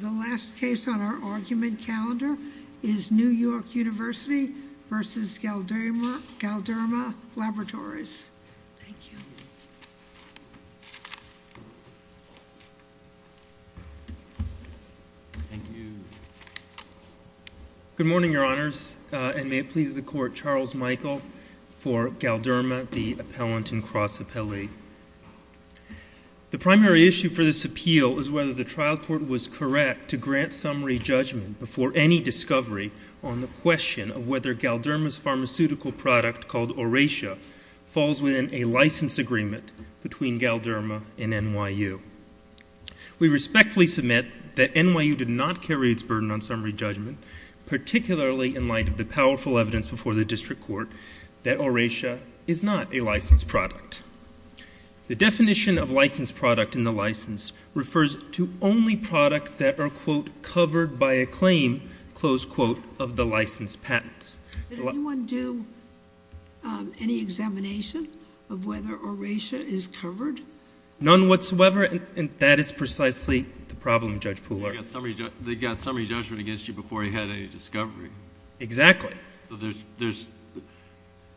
The last case on our argument calendar is New York University v. Galderma Laboratories. Good morning, Your Honors, and may it please the Court, Charles Michael for Galderma, the Court was correct to grant summary judgment before any discovery on the question of whether Galderma's pharmaceutical product, called Oratia, falls within a license agreement between Galderma and NYU. We respectfully submit that NYU did not carry its burden on summary judgment, particularly in light of the powerful evidence before the District Court that Oratia is not a licensed product. The definition of licensed product in the license refers to only products that are, quote, covered by a claim, close quote, of the licensed patents. Did anyone do any examination of whether Oratia is covered? None whatsoever, and that is precisely the problem, Judge Pooler. They got summary judgment against you before you had any discovery. Exactly.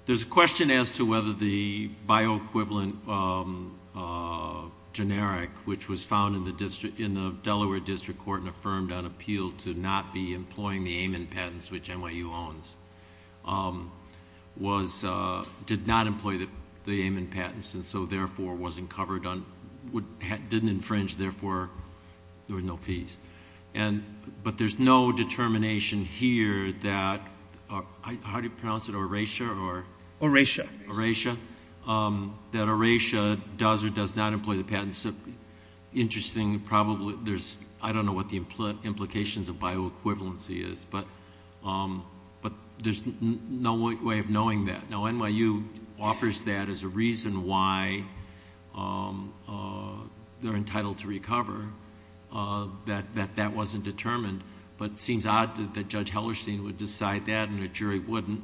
There's a question as to whether the bioequivalent generic, which was found in the Delaware District Court and affirmed on appeal to not be employing the Amon patents, which NYU owns, did not employ the Amon patents, and so, therefore, wasn't covered on... didn't infringe, therefore, there were no fees. But there's no determination here that... how do you pronounce it, Oratia or... Oratia. Oratia, that Oratia does or does not employ the patents. Interesting, probably, there's... I don't know what the implications of bioequivalency is, but there's no way of knowing that. Now, they're entitled to recover, that that wasn't determined, but it seems odd that Judge Hellerstein would decide that and a jury wouldn't,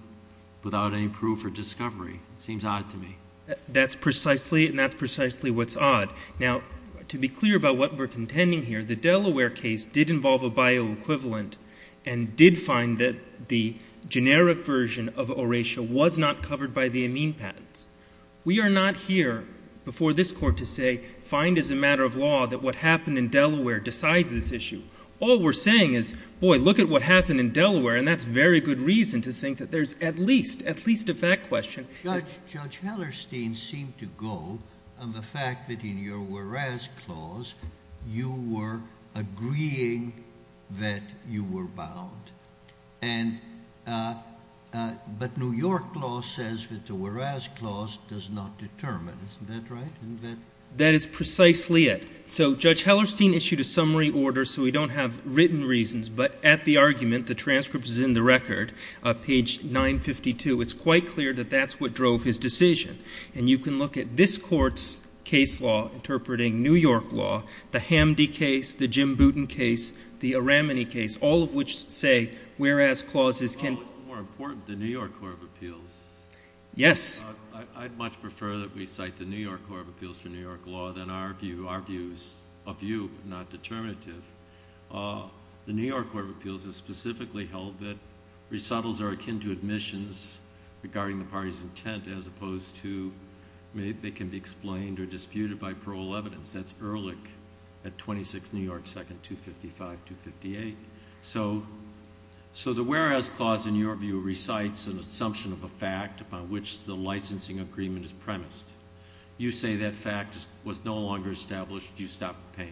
without any proof or discovery. It seems odd to me. That's precisely, and that's precisely what's odd. Now, to be clear about what we're contending here, the Delaware case did involve a bioequivalent and did find that the generic version of Oratia was not covered by the Amon patents. We are not here, before this Court, to say, find as a matter of law that what happened in Delaware decides this issue. All we're saying is, boy, look at what happened in Delaware, and that's very good reason to think that there's at least, at least a fact question. Judge Hellerstein seemed to go on the fact that in your Juarez Clause, you were agreeing that you were bound, and... but New York law says that the Juarez Clause does not determine. Isn't that right? That is precisely it. So Judge Hellerstein issued a summary order, so we don't have written reasons, but at the argument, the transcript is in the record, page 952. It's quite clear that that's what drove his decision. And you can look at this Court's case law interpreting New York law, the Hamdy case, the Jim Booten case, the Aramany case, all of which say, whereas clauses can... that we cite the New York Court of Appeals for New York law, then our view... our views... a view, but not determinative. The New York Court of Appeals has specifically held that resettles are akin to admissions regarding the party's intent, as opposed to they can be explained or disputed by parole evidence. That's Ehrlich at 26 New York 2nd, 255-258. So the Juarez Clause, in your view, recites an assumption of a fact upon which the licensing agreement is premised. You say that fact was no longer established. You stopped paying.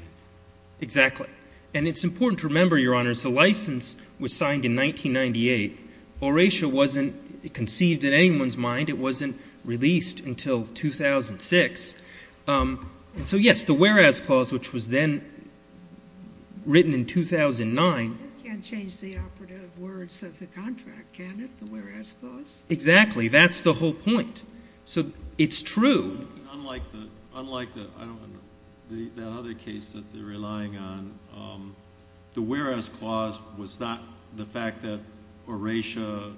Exactly. And it's important to remember, Your Honors, the license was signed in 1998. Oratio wasn't conceived in anyone's mind. It wasn't released until 2006. So yes, the whereas clause, which was then written in 2009... You can't change the operative words of the contract, can you, the whereas clause? Exactly. That's the whole point. So it's true... Unlike the... I don't... that other case that they're relying on, the whereas clause was not... the fact that Oratio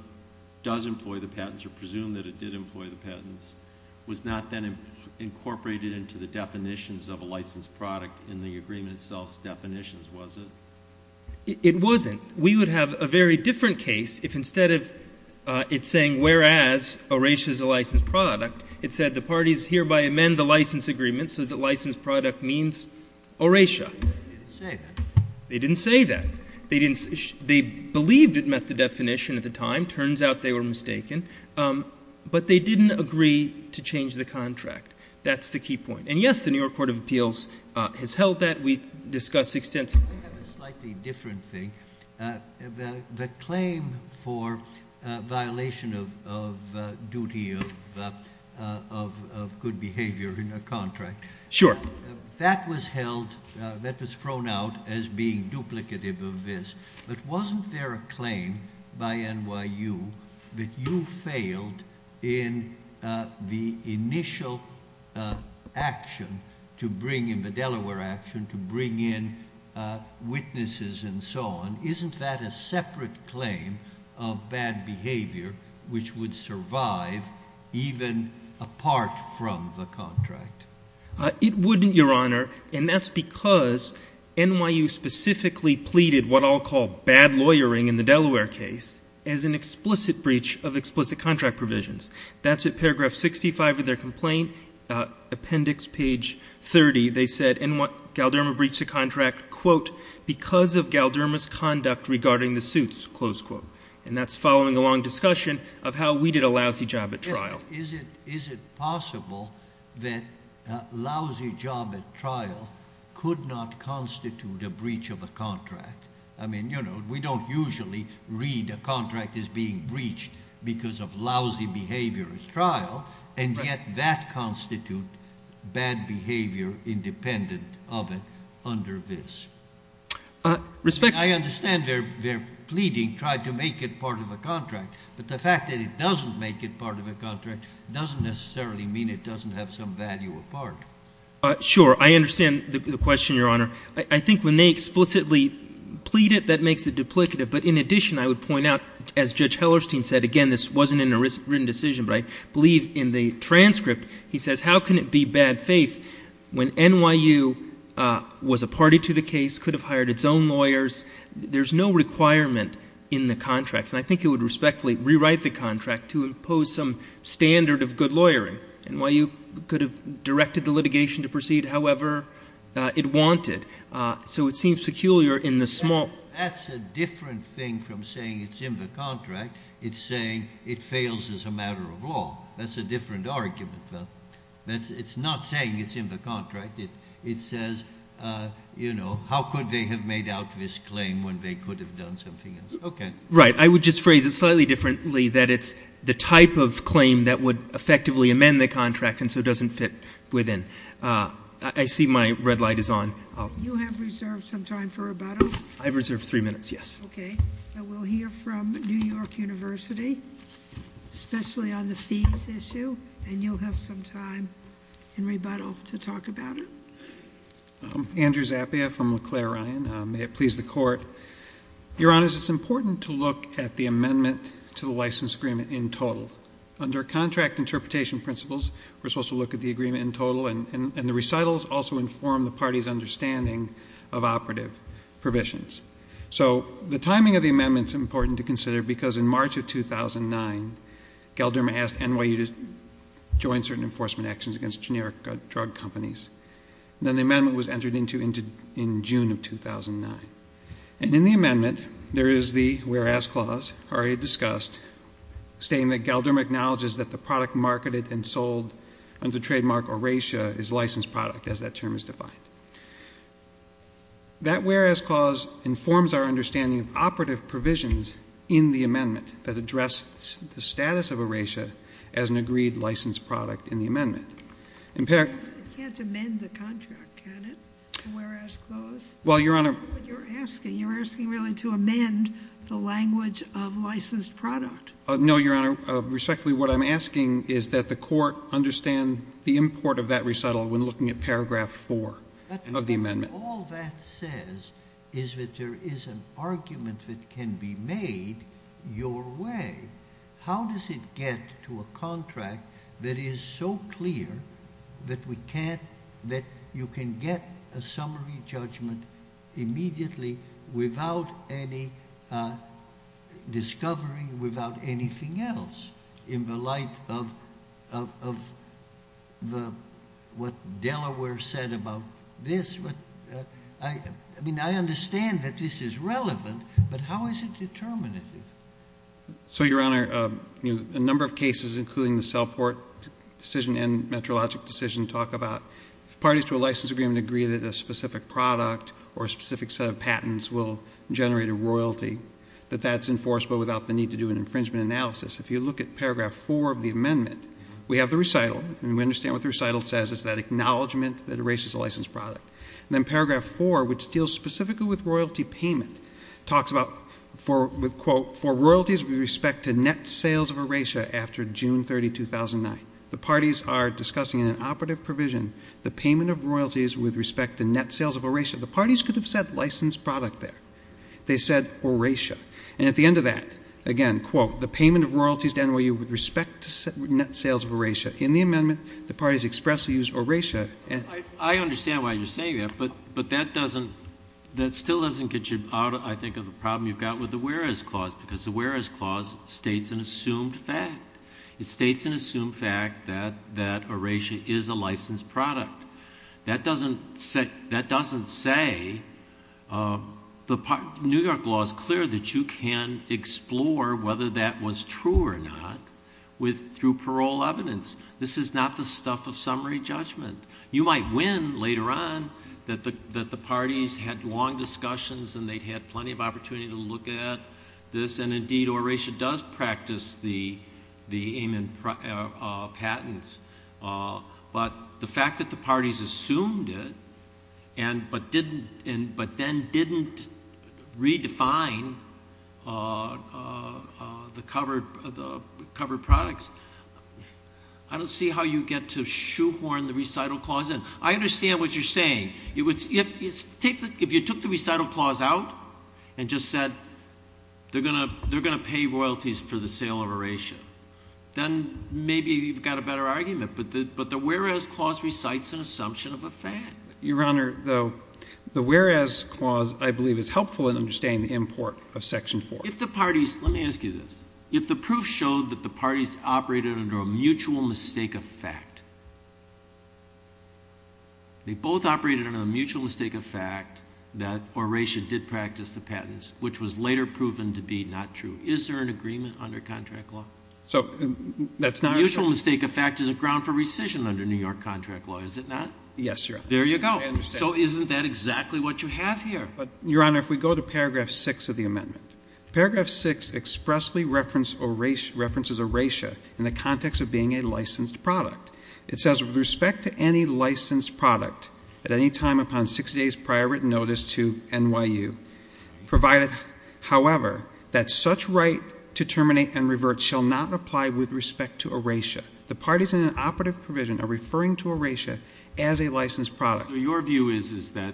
does employ the patents, or presumed that it did employ the patents, was not then incorporated into the definitions of a licensed product in the agreement itself's definitions, was it? It wasn't. We would have a very different case if instead of it saying whereas Oratio is a licensed product, it said the parties hereby amend the license agreement so that licensed product means Oratio. They didn't say that. They didn't say that. They believed it met the definition at the time. Turns out they were mistaken. But they didn't agree to change the contract. That's the key point. And yes, the New York Court of Appeals has held that. We discussed extensively... It's a slightly different thing. The claim for violation of duty of good behavior in a contract... Sure. That was held... that was thrown out as being duplicative of this. But wasn't there a claim by NYU that you failed in the initial action to bring in... the Delaware action to bring in witnesses and so on? Isn't that a separate claim of bad behavior which would survive even apart from the contract? It wouldn't, Your Honor. And that's because NYU specifically pleaded what I'll call bad lawyering in the Delaware case as an explicit breach of explicit contract provisions. That's at paragraph 65 of their complaint. Appendix page 30, they said in what... Galderma breached the contract, quote, because of Galderma's conduct regarding the suits, close quote. And that's following a long discussion of how we did a lousy job at trial. Is it possible that a lousy job at trial could not constitute a breach of a contract? I mean, you know, we don't usually read a contract as being breached because of lousy behavior at trial, and yet that constitutes bad behavior independent of it under this. Respect... I understand their pleading tried to make it part of a contract. But the fact that it doesn't make it part of a contract doesn't necessarily mean it doesn't have some value apart. Sure. I understand the question, Your Honor. I think when they explicitly plead it, that makes it duplicative. But in addition, I would point out, as Judge Hellerstein said, again, this wasn't in a written decision, but I believe in the transcript, he says, how can it be bad faith when NYU was a party to the case, could have hired its own lawyers? There's no requirement in the contract. And I think he would respectfully rewrite the contract to impose some standard of good lawyering. NYU could have directed the litigation to proceed however it wanted. So it seems peculiar in the small... It fails as a matter of law. That's a different argument. It's not saying it's in the contract. It says, you know, how could they have made out this claim when they could have done something else? Okay. Right. I would just phrase it slightly differently, that it's the type of claim that would effectively amend the contract and so doesn't fit within. I see my red light is on. You have reserved some time for rebuttal. I've reserved three minutes, yes. Okay. I will hear from New York University, especially on the fees issue, and you'll have some time in rebuttal to talk about it. Andrew Zappia from LeClaire Ryan. May it please the Court. Your Honors, it's important to look at the amendment to the license agreement in total. Under contract interpretation principles, we're supposed to look at the agreement in total, and the recitals also inform the party's understanding of operative provisions. So, the timing of the amendment is important to consider because in March of 2009, Galdermo asked NYU to join certain enforcement actions against generic drug companies. Then the amendment was entered into in June of 2009. And in the amendment, there is the whereas clause, already discussed, stating that under trademark oratia is licensed product, as that term is defined. That whereas clause informs our understanding of operative provisions in the amendment that address the status of oratia as an agreed licensed product in the amendment. I can't amend the contract, can it, the whereas clause? Well, Your Honor. That's not what you're asking. You're asking really to amend the language of licensed product. No, Your Honor. Respectfully, what I'm asking is that the court understand the import of that recital when looking at paragraph four of the amendment. All that says is that there is an argument that can be made your way. How does it get to a contract that is so clear that you can get a summary judgment immediately without any discovery, without anything else, in the light of what Delaware said about this? I mean, I understand that this is relevant, but how is it determinative? So, Your Honor, a number of cases, including the cell port decision and metrologic decision, talk about if parties to a license agreement agree that a specific product or a specific set of patents will generate a royalty, that that's enforced but without the need to do an infringement analysis. If you look at paragraph four of the amendment, we have the recital, and we understand what the recital says is that acknowledgment that oratia is a licensed product. Then paragraph four, which deals specifically with royalty payment, talks about, with quote, for royalties with respect to net sales of oratia after June 30, 2009. The parties are discussing in an operative provision the payment of royalties with respect to net sales of oratia. The parties could have said licensed product there. They said oratia. And at the end of that, again, quote, the payment of royalties to NYU with respect to net sales of oratia. In the amendment, the parties expressly use oratia. I understand why you're saying that, but that still doesn't get you out, I think, of the problem you've got with the whereas clause, because the whereas clause states an assumed fact. It states an assumed fact that oratia is a licensed product. That doesn't say the New York law is clear that you can explore whether that was true or not through parole evidence. This is not the stuff of summary judgment. You might win later on that the parties had long discussions and they'd had plenty of opportunity to look at this. And, indeed, oratia does practice the amendment patents. But the fact that the parties assumed it but then didn't redefine the covered products, I don't see how you get to shoehorn the recital clause in. I understand what you're saying. If you took the recital clause out and just said they're going to pay royalties for the sale of oratia, then maybe you've got a better argument. But the whereas clause recites an assumption of a fact. Your Honor, the whereas clause, I believe, is helpful in understanding the import of Section 4. Let me ask you this. If the proof showed that the parties operated under a mutual mistake of fact, they both operated under the mutual mistake of fact that oratia did practice the patents, which was later proven to be not true, is there an agreement under contract law? So that's not true. The mutual mistake of fact is a ground for rescission under New York contract law, is it not? Yes, Your Honor. There you go. So isn't that exactly what you have here? Your Honor, if we go to paragraph 6 of the amendment, paragraph 6 expressly references oratia in the context of being a licensed product. It says, With respect to any licensed product at any time upon 60 days prior written notice to NYU, provided, however, that such right to terminate and revert shall not apply with respect to oratia. The parties in an operative provision are referring to oratia as a licensed product. So your view is that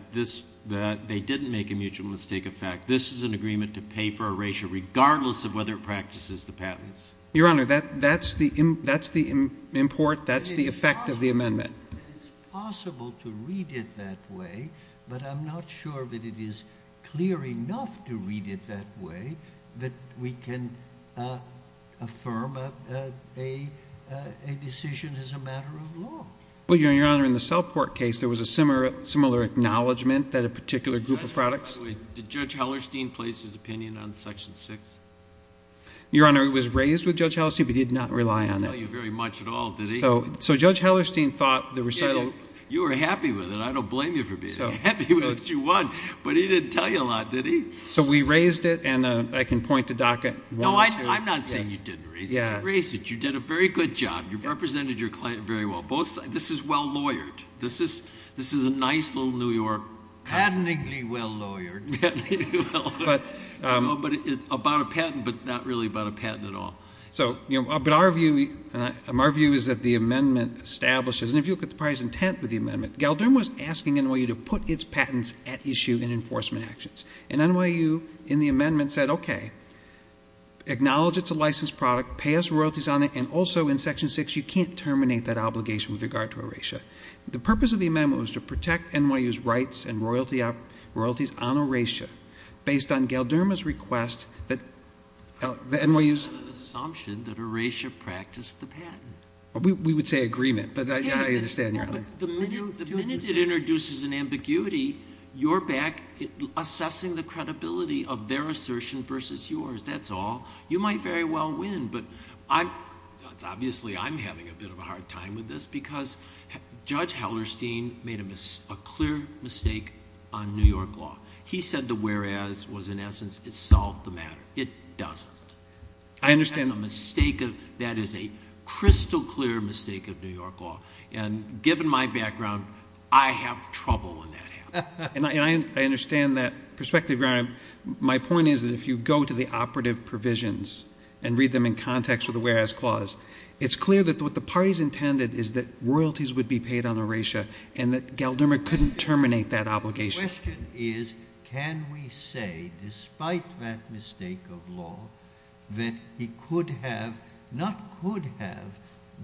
they didn't make a mutual mistake of fact. This is an agreement to pay for oratia regardless of whether it practices the patents. Your Honor, that's the import. That's the effect of the amendment. It is possible to read it that way, but I'm not sure that it is clear enough to read it that way that we can affirm a decision as a matter of law. Well, Your Honor, in the Cellport case, there was a similar acknowledgment that a particular group of products By the way, did Judge Hellerstein place his opinion on section 6? Your Honor, it was raised with Judge Hellerstein, but he did not rely on it. He didn't tell you very much at all, did he? So Judge Hellerstein thought the recital You were happy with it. I don't blame you for being happy with what you won, but he didn't tell you a lot, did he? So we raised it, and I can point to DACA 1 and 2. No, I'm not saying you didn't raise it. You raised it. You did a very good job. You represented your client very well. This is well lawyered. This is a nice little New York Patentingly well lawyered. Patentingly well lawyered. About a patent, but not really about a patent at all. But our view is that the amendment establishes And if you look at the parties intent with the amendment, Galdermo was asking NYU to put its patents at issue in enforcement actions. And NYU in the amendment said, Okay, acknowledge it's a licensed product, pay us royalties on it, and also in section 6 you can't terminate that obligation with regard to erasure. The purpose of the amendment was to protect NYU's rights and royalties on erasure based on Galdermo's request that NYU's It's an assumption that erasure practiced the patent. We would say agreement, but I understand. The minute it introduces an ambiguity, you're back assessing the credibility of their assertion versus yours. That's all. You might very well win, but obviously I'm having a bit of a hard time with this because Judge Hellerstein made a clear mistake on New York law. He said the whereas was in essence, it solved the matter. It doesn't. I understand. That is a crystal clear mistake of New York law. And given my background, I have trouble when that happens. And I understand that perspective. My point is that if you go to the operative provisions and read them in context with the whereas clause, it's clear that what the parties intended is that royalties would be paid on erasure and that Galdermo couldn't terminate that obligation. The question is, can we say, despite that mistake of law, that he could have, not could have,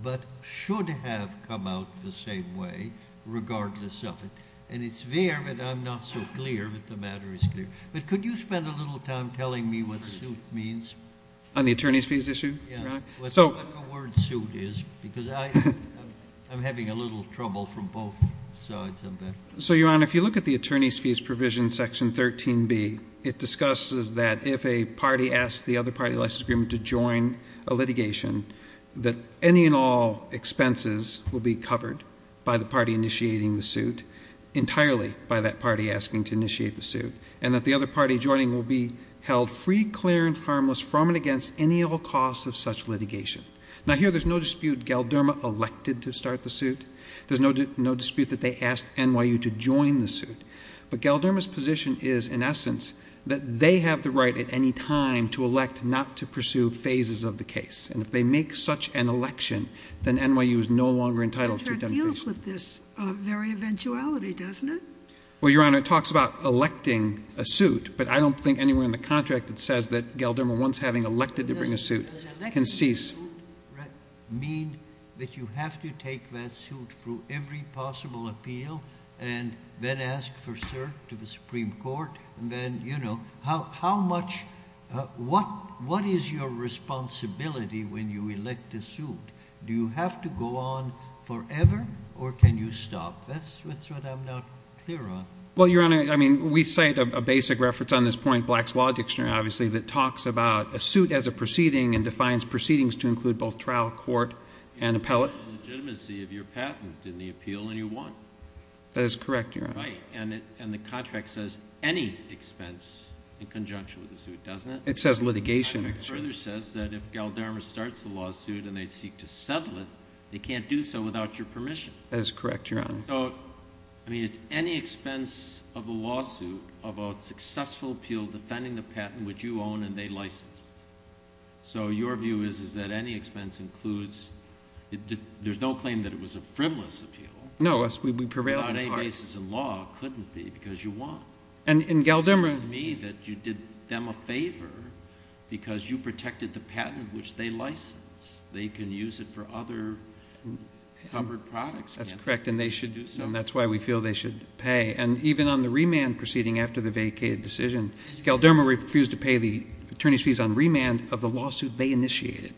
but should have come out the same way regardless of it. And it's there, but I'm not so clear that the matter is clear. But could you spend a little time telling me what the suit means? On the attorney's fees issue? Yeah. What the word suit is because I'm having a little trouble from both sides of that. So, Your Honor, if you look at the attorney's fees provision section 13B, it discusses that if a party asks the other party license agreement to join a litigation, that any and all expenses will be covered by the party initiating the suit, entirely by that party asking to initiate the suit, and that the other party joining will be held free, clear, and harmless from and against any ill cause of such litigation. Now, here there's no dispute Galdermo elected to start the suit. There's no dispute that they asked NYU to join the suit. But Galdermo's position is, in essence, that they have the right at any time to elect not to pursue phases of the case. And if they make such an election, then NYU is no longer entitled to attempt the case. The contract deals with this very eventuality, doesn't it? Well, Your Honor, it talks about electing a suit, but I don't think anywhere in the contract it says that Galdermo, once having elected to bring a suit, can cease. Does electing a suit mean that you have to take that suit through every possible appeal and then ask for cert to the Supreme Court? And then, you know, how much, what is your responsibility when you elect a suit? Do you have to go on forever, or can you stop? That's what I'm not clear on. Well, Your Honor, I mean, we cite a basic reference on this point, Black's Law Dictionary, obviously, that talks about a suit as a proceeding and defines proceedings to include both trial, court, and appellate. It's about the legitimacy of your patent in the appeal, and you won. That is correct, Your Honor. Right, and the contract says any expense in conjunction with the suit, doesn't it? It says litigation. And it further says that if Galdermo starts the lawsuit and they seek to settle it, they can't do so without your permission. That is correct, Your Honor. So, I mean, it's any expense of a lawsuit of a successful appeal defending the patent which you own and they licensed. So your view is that any expense includes, there's no claim that it was a frivolous appeal. No, we prevail. Without any basis in law, it couldn't be because you won. And Galdermo. It seems to me that you did them a favor because you protected the patent which they licensed. They can use it for other covered products. That's correct, and that's why we feel they should pay. And even on the remand proceeding after the vacated decision, Galdermo refused to pay the attorney's fees on remand of the lawsuit they initiated,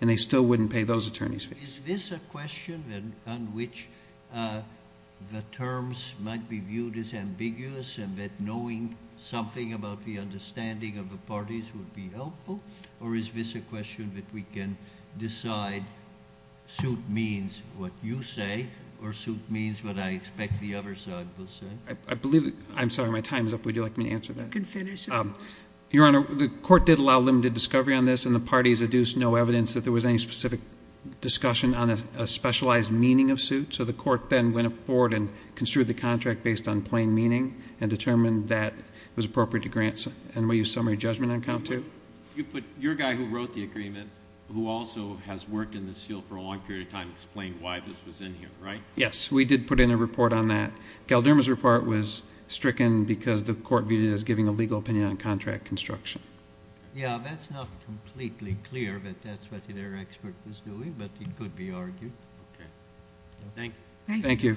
and they still wouldn't pay those attorney's fees. Is this a question on which the terms might be viewed as ambiguous and that knowing something about the understanding of the parties would be helpful, or is this a question that we can decide suit means what you say or suit means what I expect the other side will say? I'm sorry. My time is up. Would you like me to answer that? You can finish. Your Honor, the court did allow limited discovery on this, and the parties adduced no evidence that there was any specific discussion on a specialized meaning of suit. So the court then went forward and construed the contract based on plain meaning and determined that it was appropriate to grant summary judgment on count two. But your guy who wrote the agreement, who also has worked in this field for a long period of time, explained why this was in here, right? Yes, we did put in a report on that. Galdermo's report was stricken because the court viewed it as giving a legal opinion on contract construction. Yeah, that's not completely clear that that's what their expert was doing, but it could be argued. Okay. Thank you. Thank you.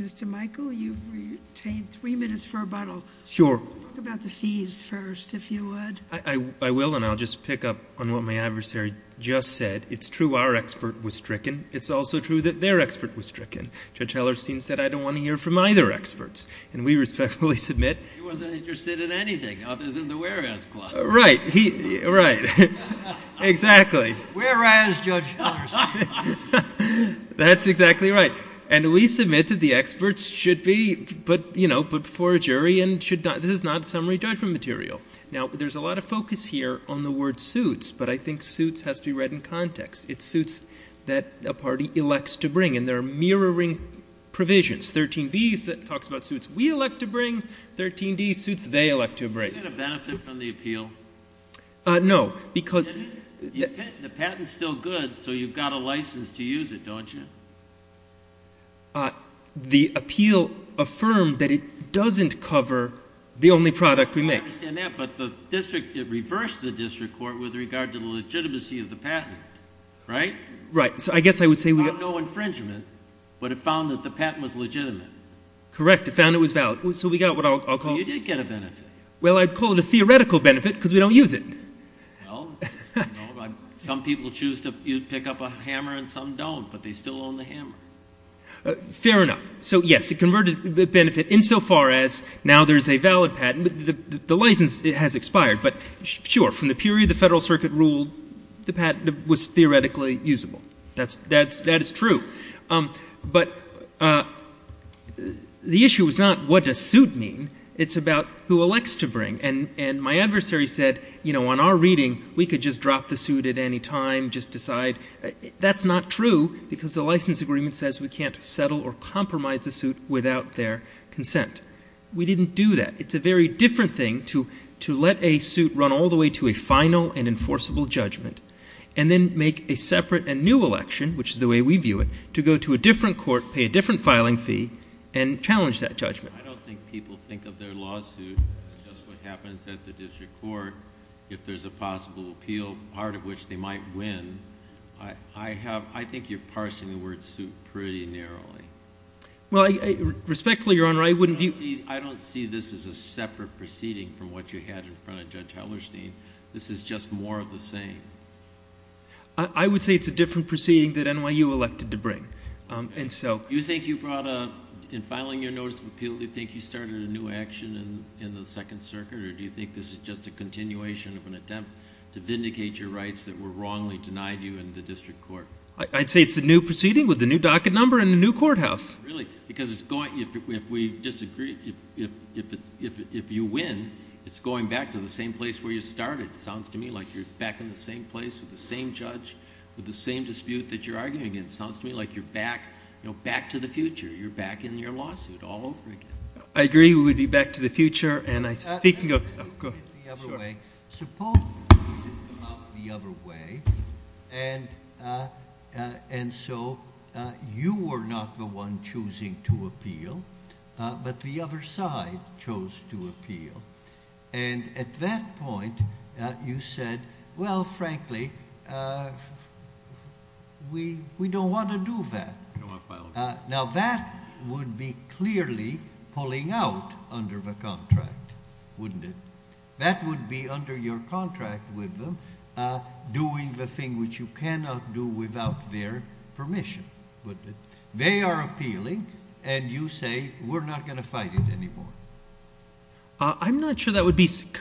Mr. Michael, you've retained three minutes for rebuttal. Sure. Talk about the fees first, if you would. I will, and I'll just pick up on what my adversary just said. It's true our expert was stricken. It's also true that their expert was stricken. Judge Hellerstein said, I don't want to hear from either experts. And we respectfully submit. He wasn't interested in anything other than the whereas clause. Right. Right. Exactly. Whereas, Judge Hellerstein. That's exactly right. And we submit that the experts should be put before a jury and this is not summary judgment material. Now, there's a lot of focus here on the word suits, but I think suits has to be read in context. It suits that a party elects to bring. And there are mirroring provisions. 13B talks about suits we elect to bring. 13D suits they elect to bring. Do you get a benefit from the appeal? No. The patent's still good, so you've got a license to use it, don't you? The appeal affirmed that it doesn't cover the only product we make. I understand that, but it reversed the district court with regard to the legitimacy of the patent. Right? Right. So I guess I would say we got no infringement, but it found that the patent was legitimate. Correct. It found it was valid. So we got what I'll call it. You did get a benefit. Well, I'd call it a theoretical benefit because we don't use it. Well, some people choose to pick up a hammer and some don't, but they still own the hammer. Fair enough. So, yes, it converted the benefit insofar as now there's a valid patent. The license has expired. But, sure, from the period the Federal Circuit ruled, the patent was theoretically usable. That is true. But the issue is not what does suit mean. It's about who elects to bring. And my adversary said, you know, on our reading, we could just drop the suit at any time, just decide. That's not true because the license agreement says we can't settle or compromise the suit without their consent. We didn't do that. It's a very different thing to let a suit run all the way to a final and enforceable judgment and then make a separate and new election, which is the way we view it, to go to a different court, pay a different filing fee, and challenge that judgment. I don't think people think of their lawsuit as just what happens at the district court if there's a possible appeal, part of which they might win. I think you're parsing the word suit pretty narrowly. Well, respectfully, Your Honor, I wouldn't view it. I don't see this as a separate proceeding from what you had in front of Judge Hellerstein. This is just more of the same. I would say it's a different proceeding that NYU elected to bring. Do you think you brought a ñ in filing your notice of appeal, do you think you started a new action in the Second Circuit, or do you think this is just a continuation of an attempt to vindicate your rights that were wrongly denied you in the district court? I'd say it's a new proceeding with a new docket number and a new courthouse. Really? Because if we disagree, if you win, it's going back to the same place where you started. It sounds to me like you're back in the same place with the same judge, with the same dispute that you're arguing against. It sounds to me like you're back to the future. You're back in your lawsuit all over again. I agree. We'll be back to the future. Go ahead. Suppose we did it the other way, and so you were not the one choosing to appeal, but the other side chose to appeal, and at that point you said, well, frankly, we don't want to do that. Now, that would be clearly pulling out under the contract, wouldn't it? That would be under your contract with them, doing the thing which you cannot do without their permission, wouldn't it? They are appealing, and you say, we're not going to fight it anymore. I'm not sure that would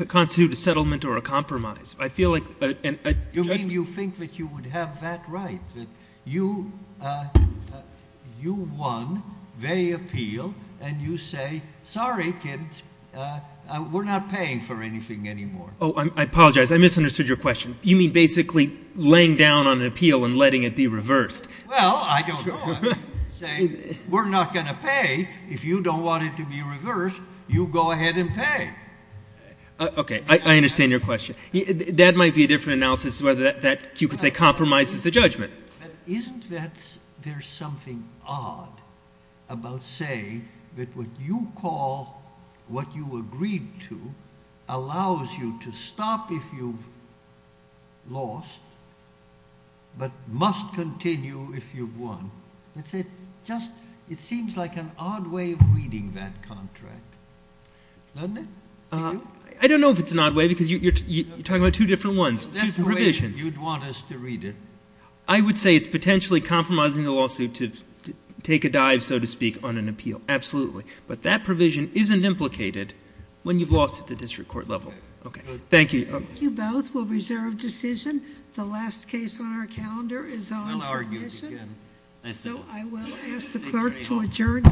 constitute a settlement or a compromise. I feel like a judgment. You mean you think that you would have that right, that you won, they appeal, and you say, sorry, kids, we're not paying for anything anymore. Oh, I apologize. I misunderstood your question. You mean basically laying down on an appeal and letting it be reversed. Well, I don't know. Say, we're not going to pay. If you don't want it to be reversed, you go ahead and pay. Okay. I understand your question. That might be a different analysis to whether that, you could say, compromises the judgment. Isn't there something odd about saying that what you call what you agreed to allows you to stop if you've lost but must continue if you've won? It seems like an odd way of reading that contract, doesn't it? I don't know if it's an odd way because you're talking about two different ones, two different provisions. You'd want us to read it. I would say it's potentially compromising the lawsuit to take a dive, so to speak, on an appeal. Absolutely. But that provision isn't implicated when you've lost at the district court level. Okay. Thank you. Thank you both. We'll reserve decision. The last case on our calendar is on submission. So I will ask the clerk to adjourn. Court is adjourned.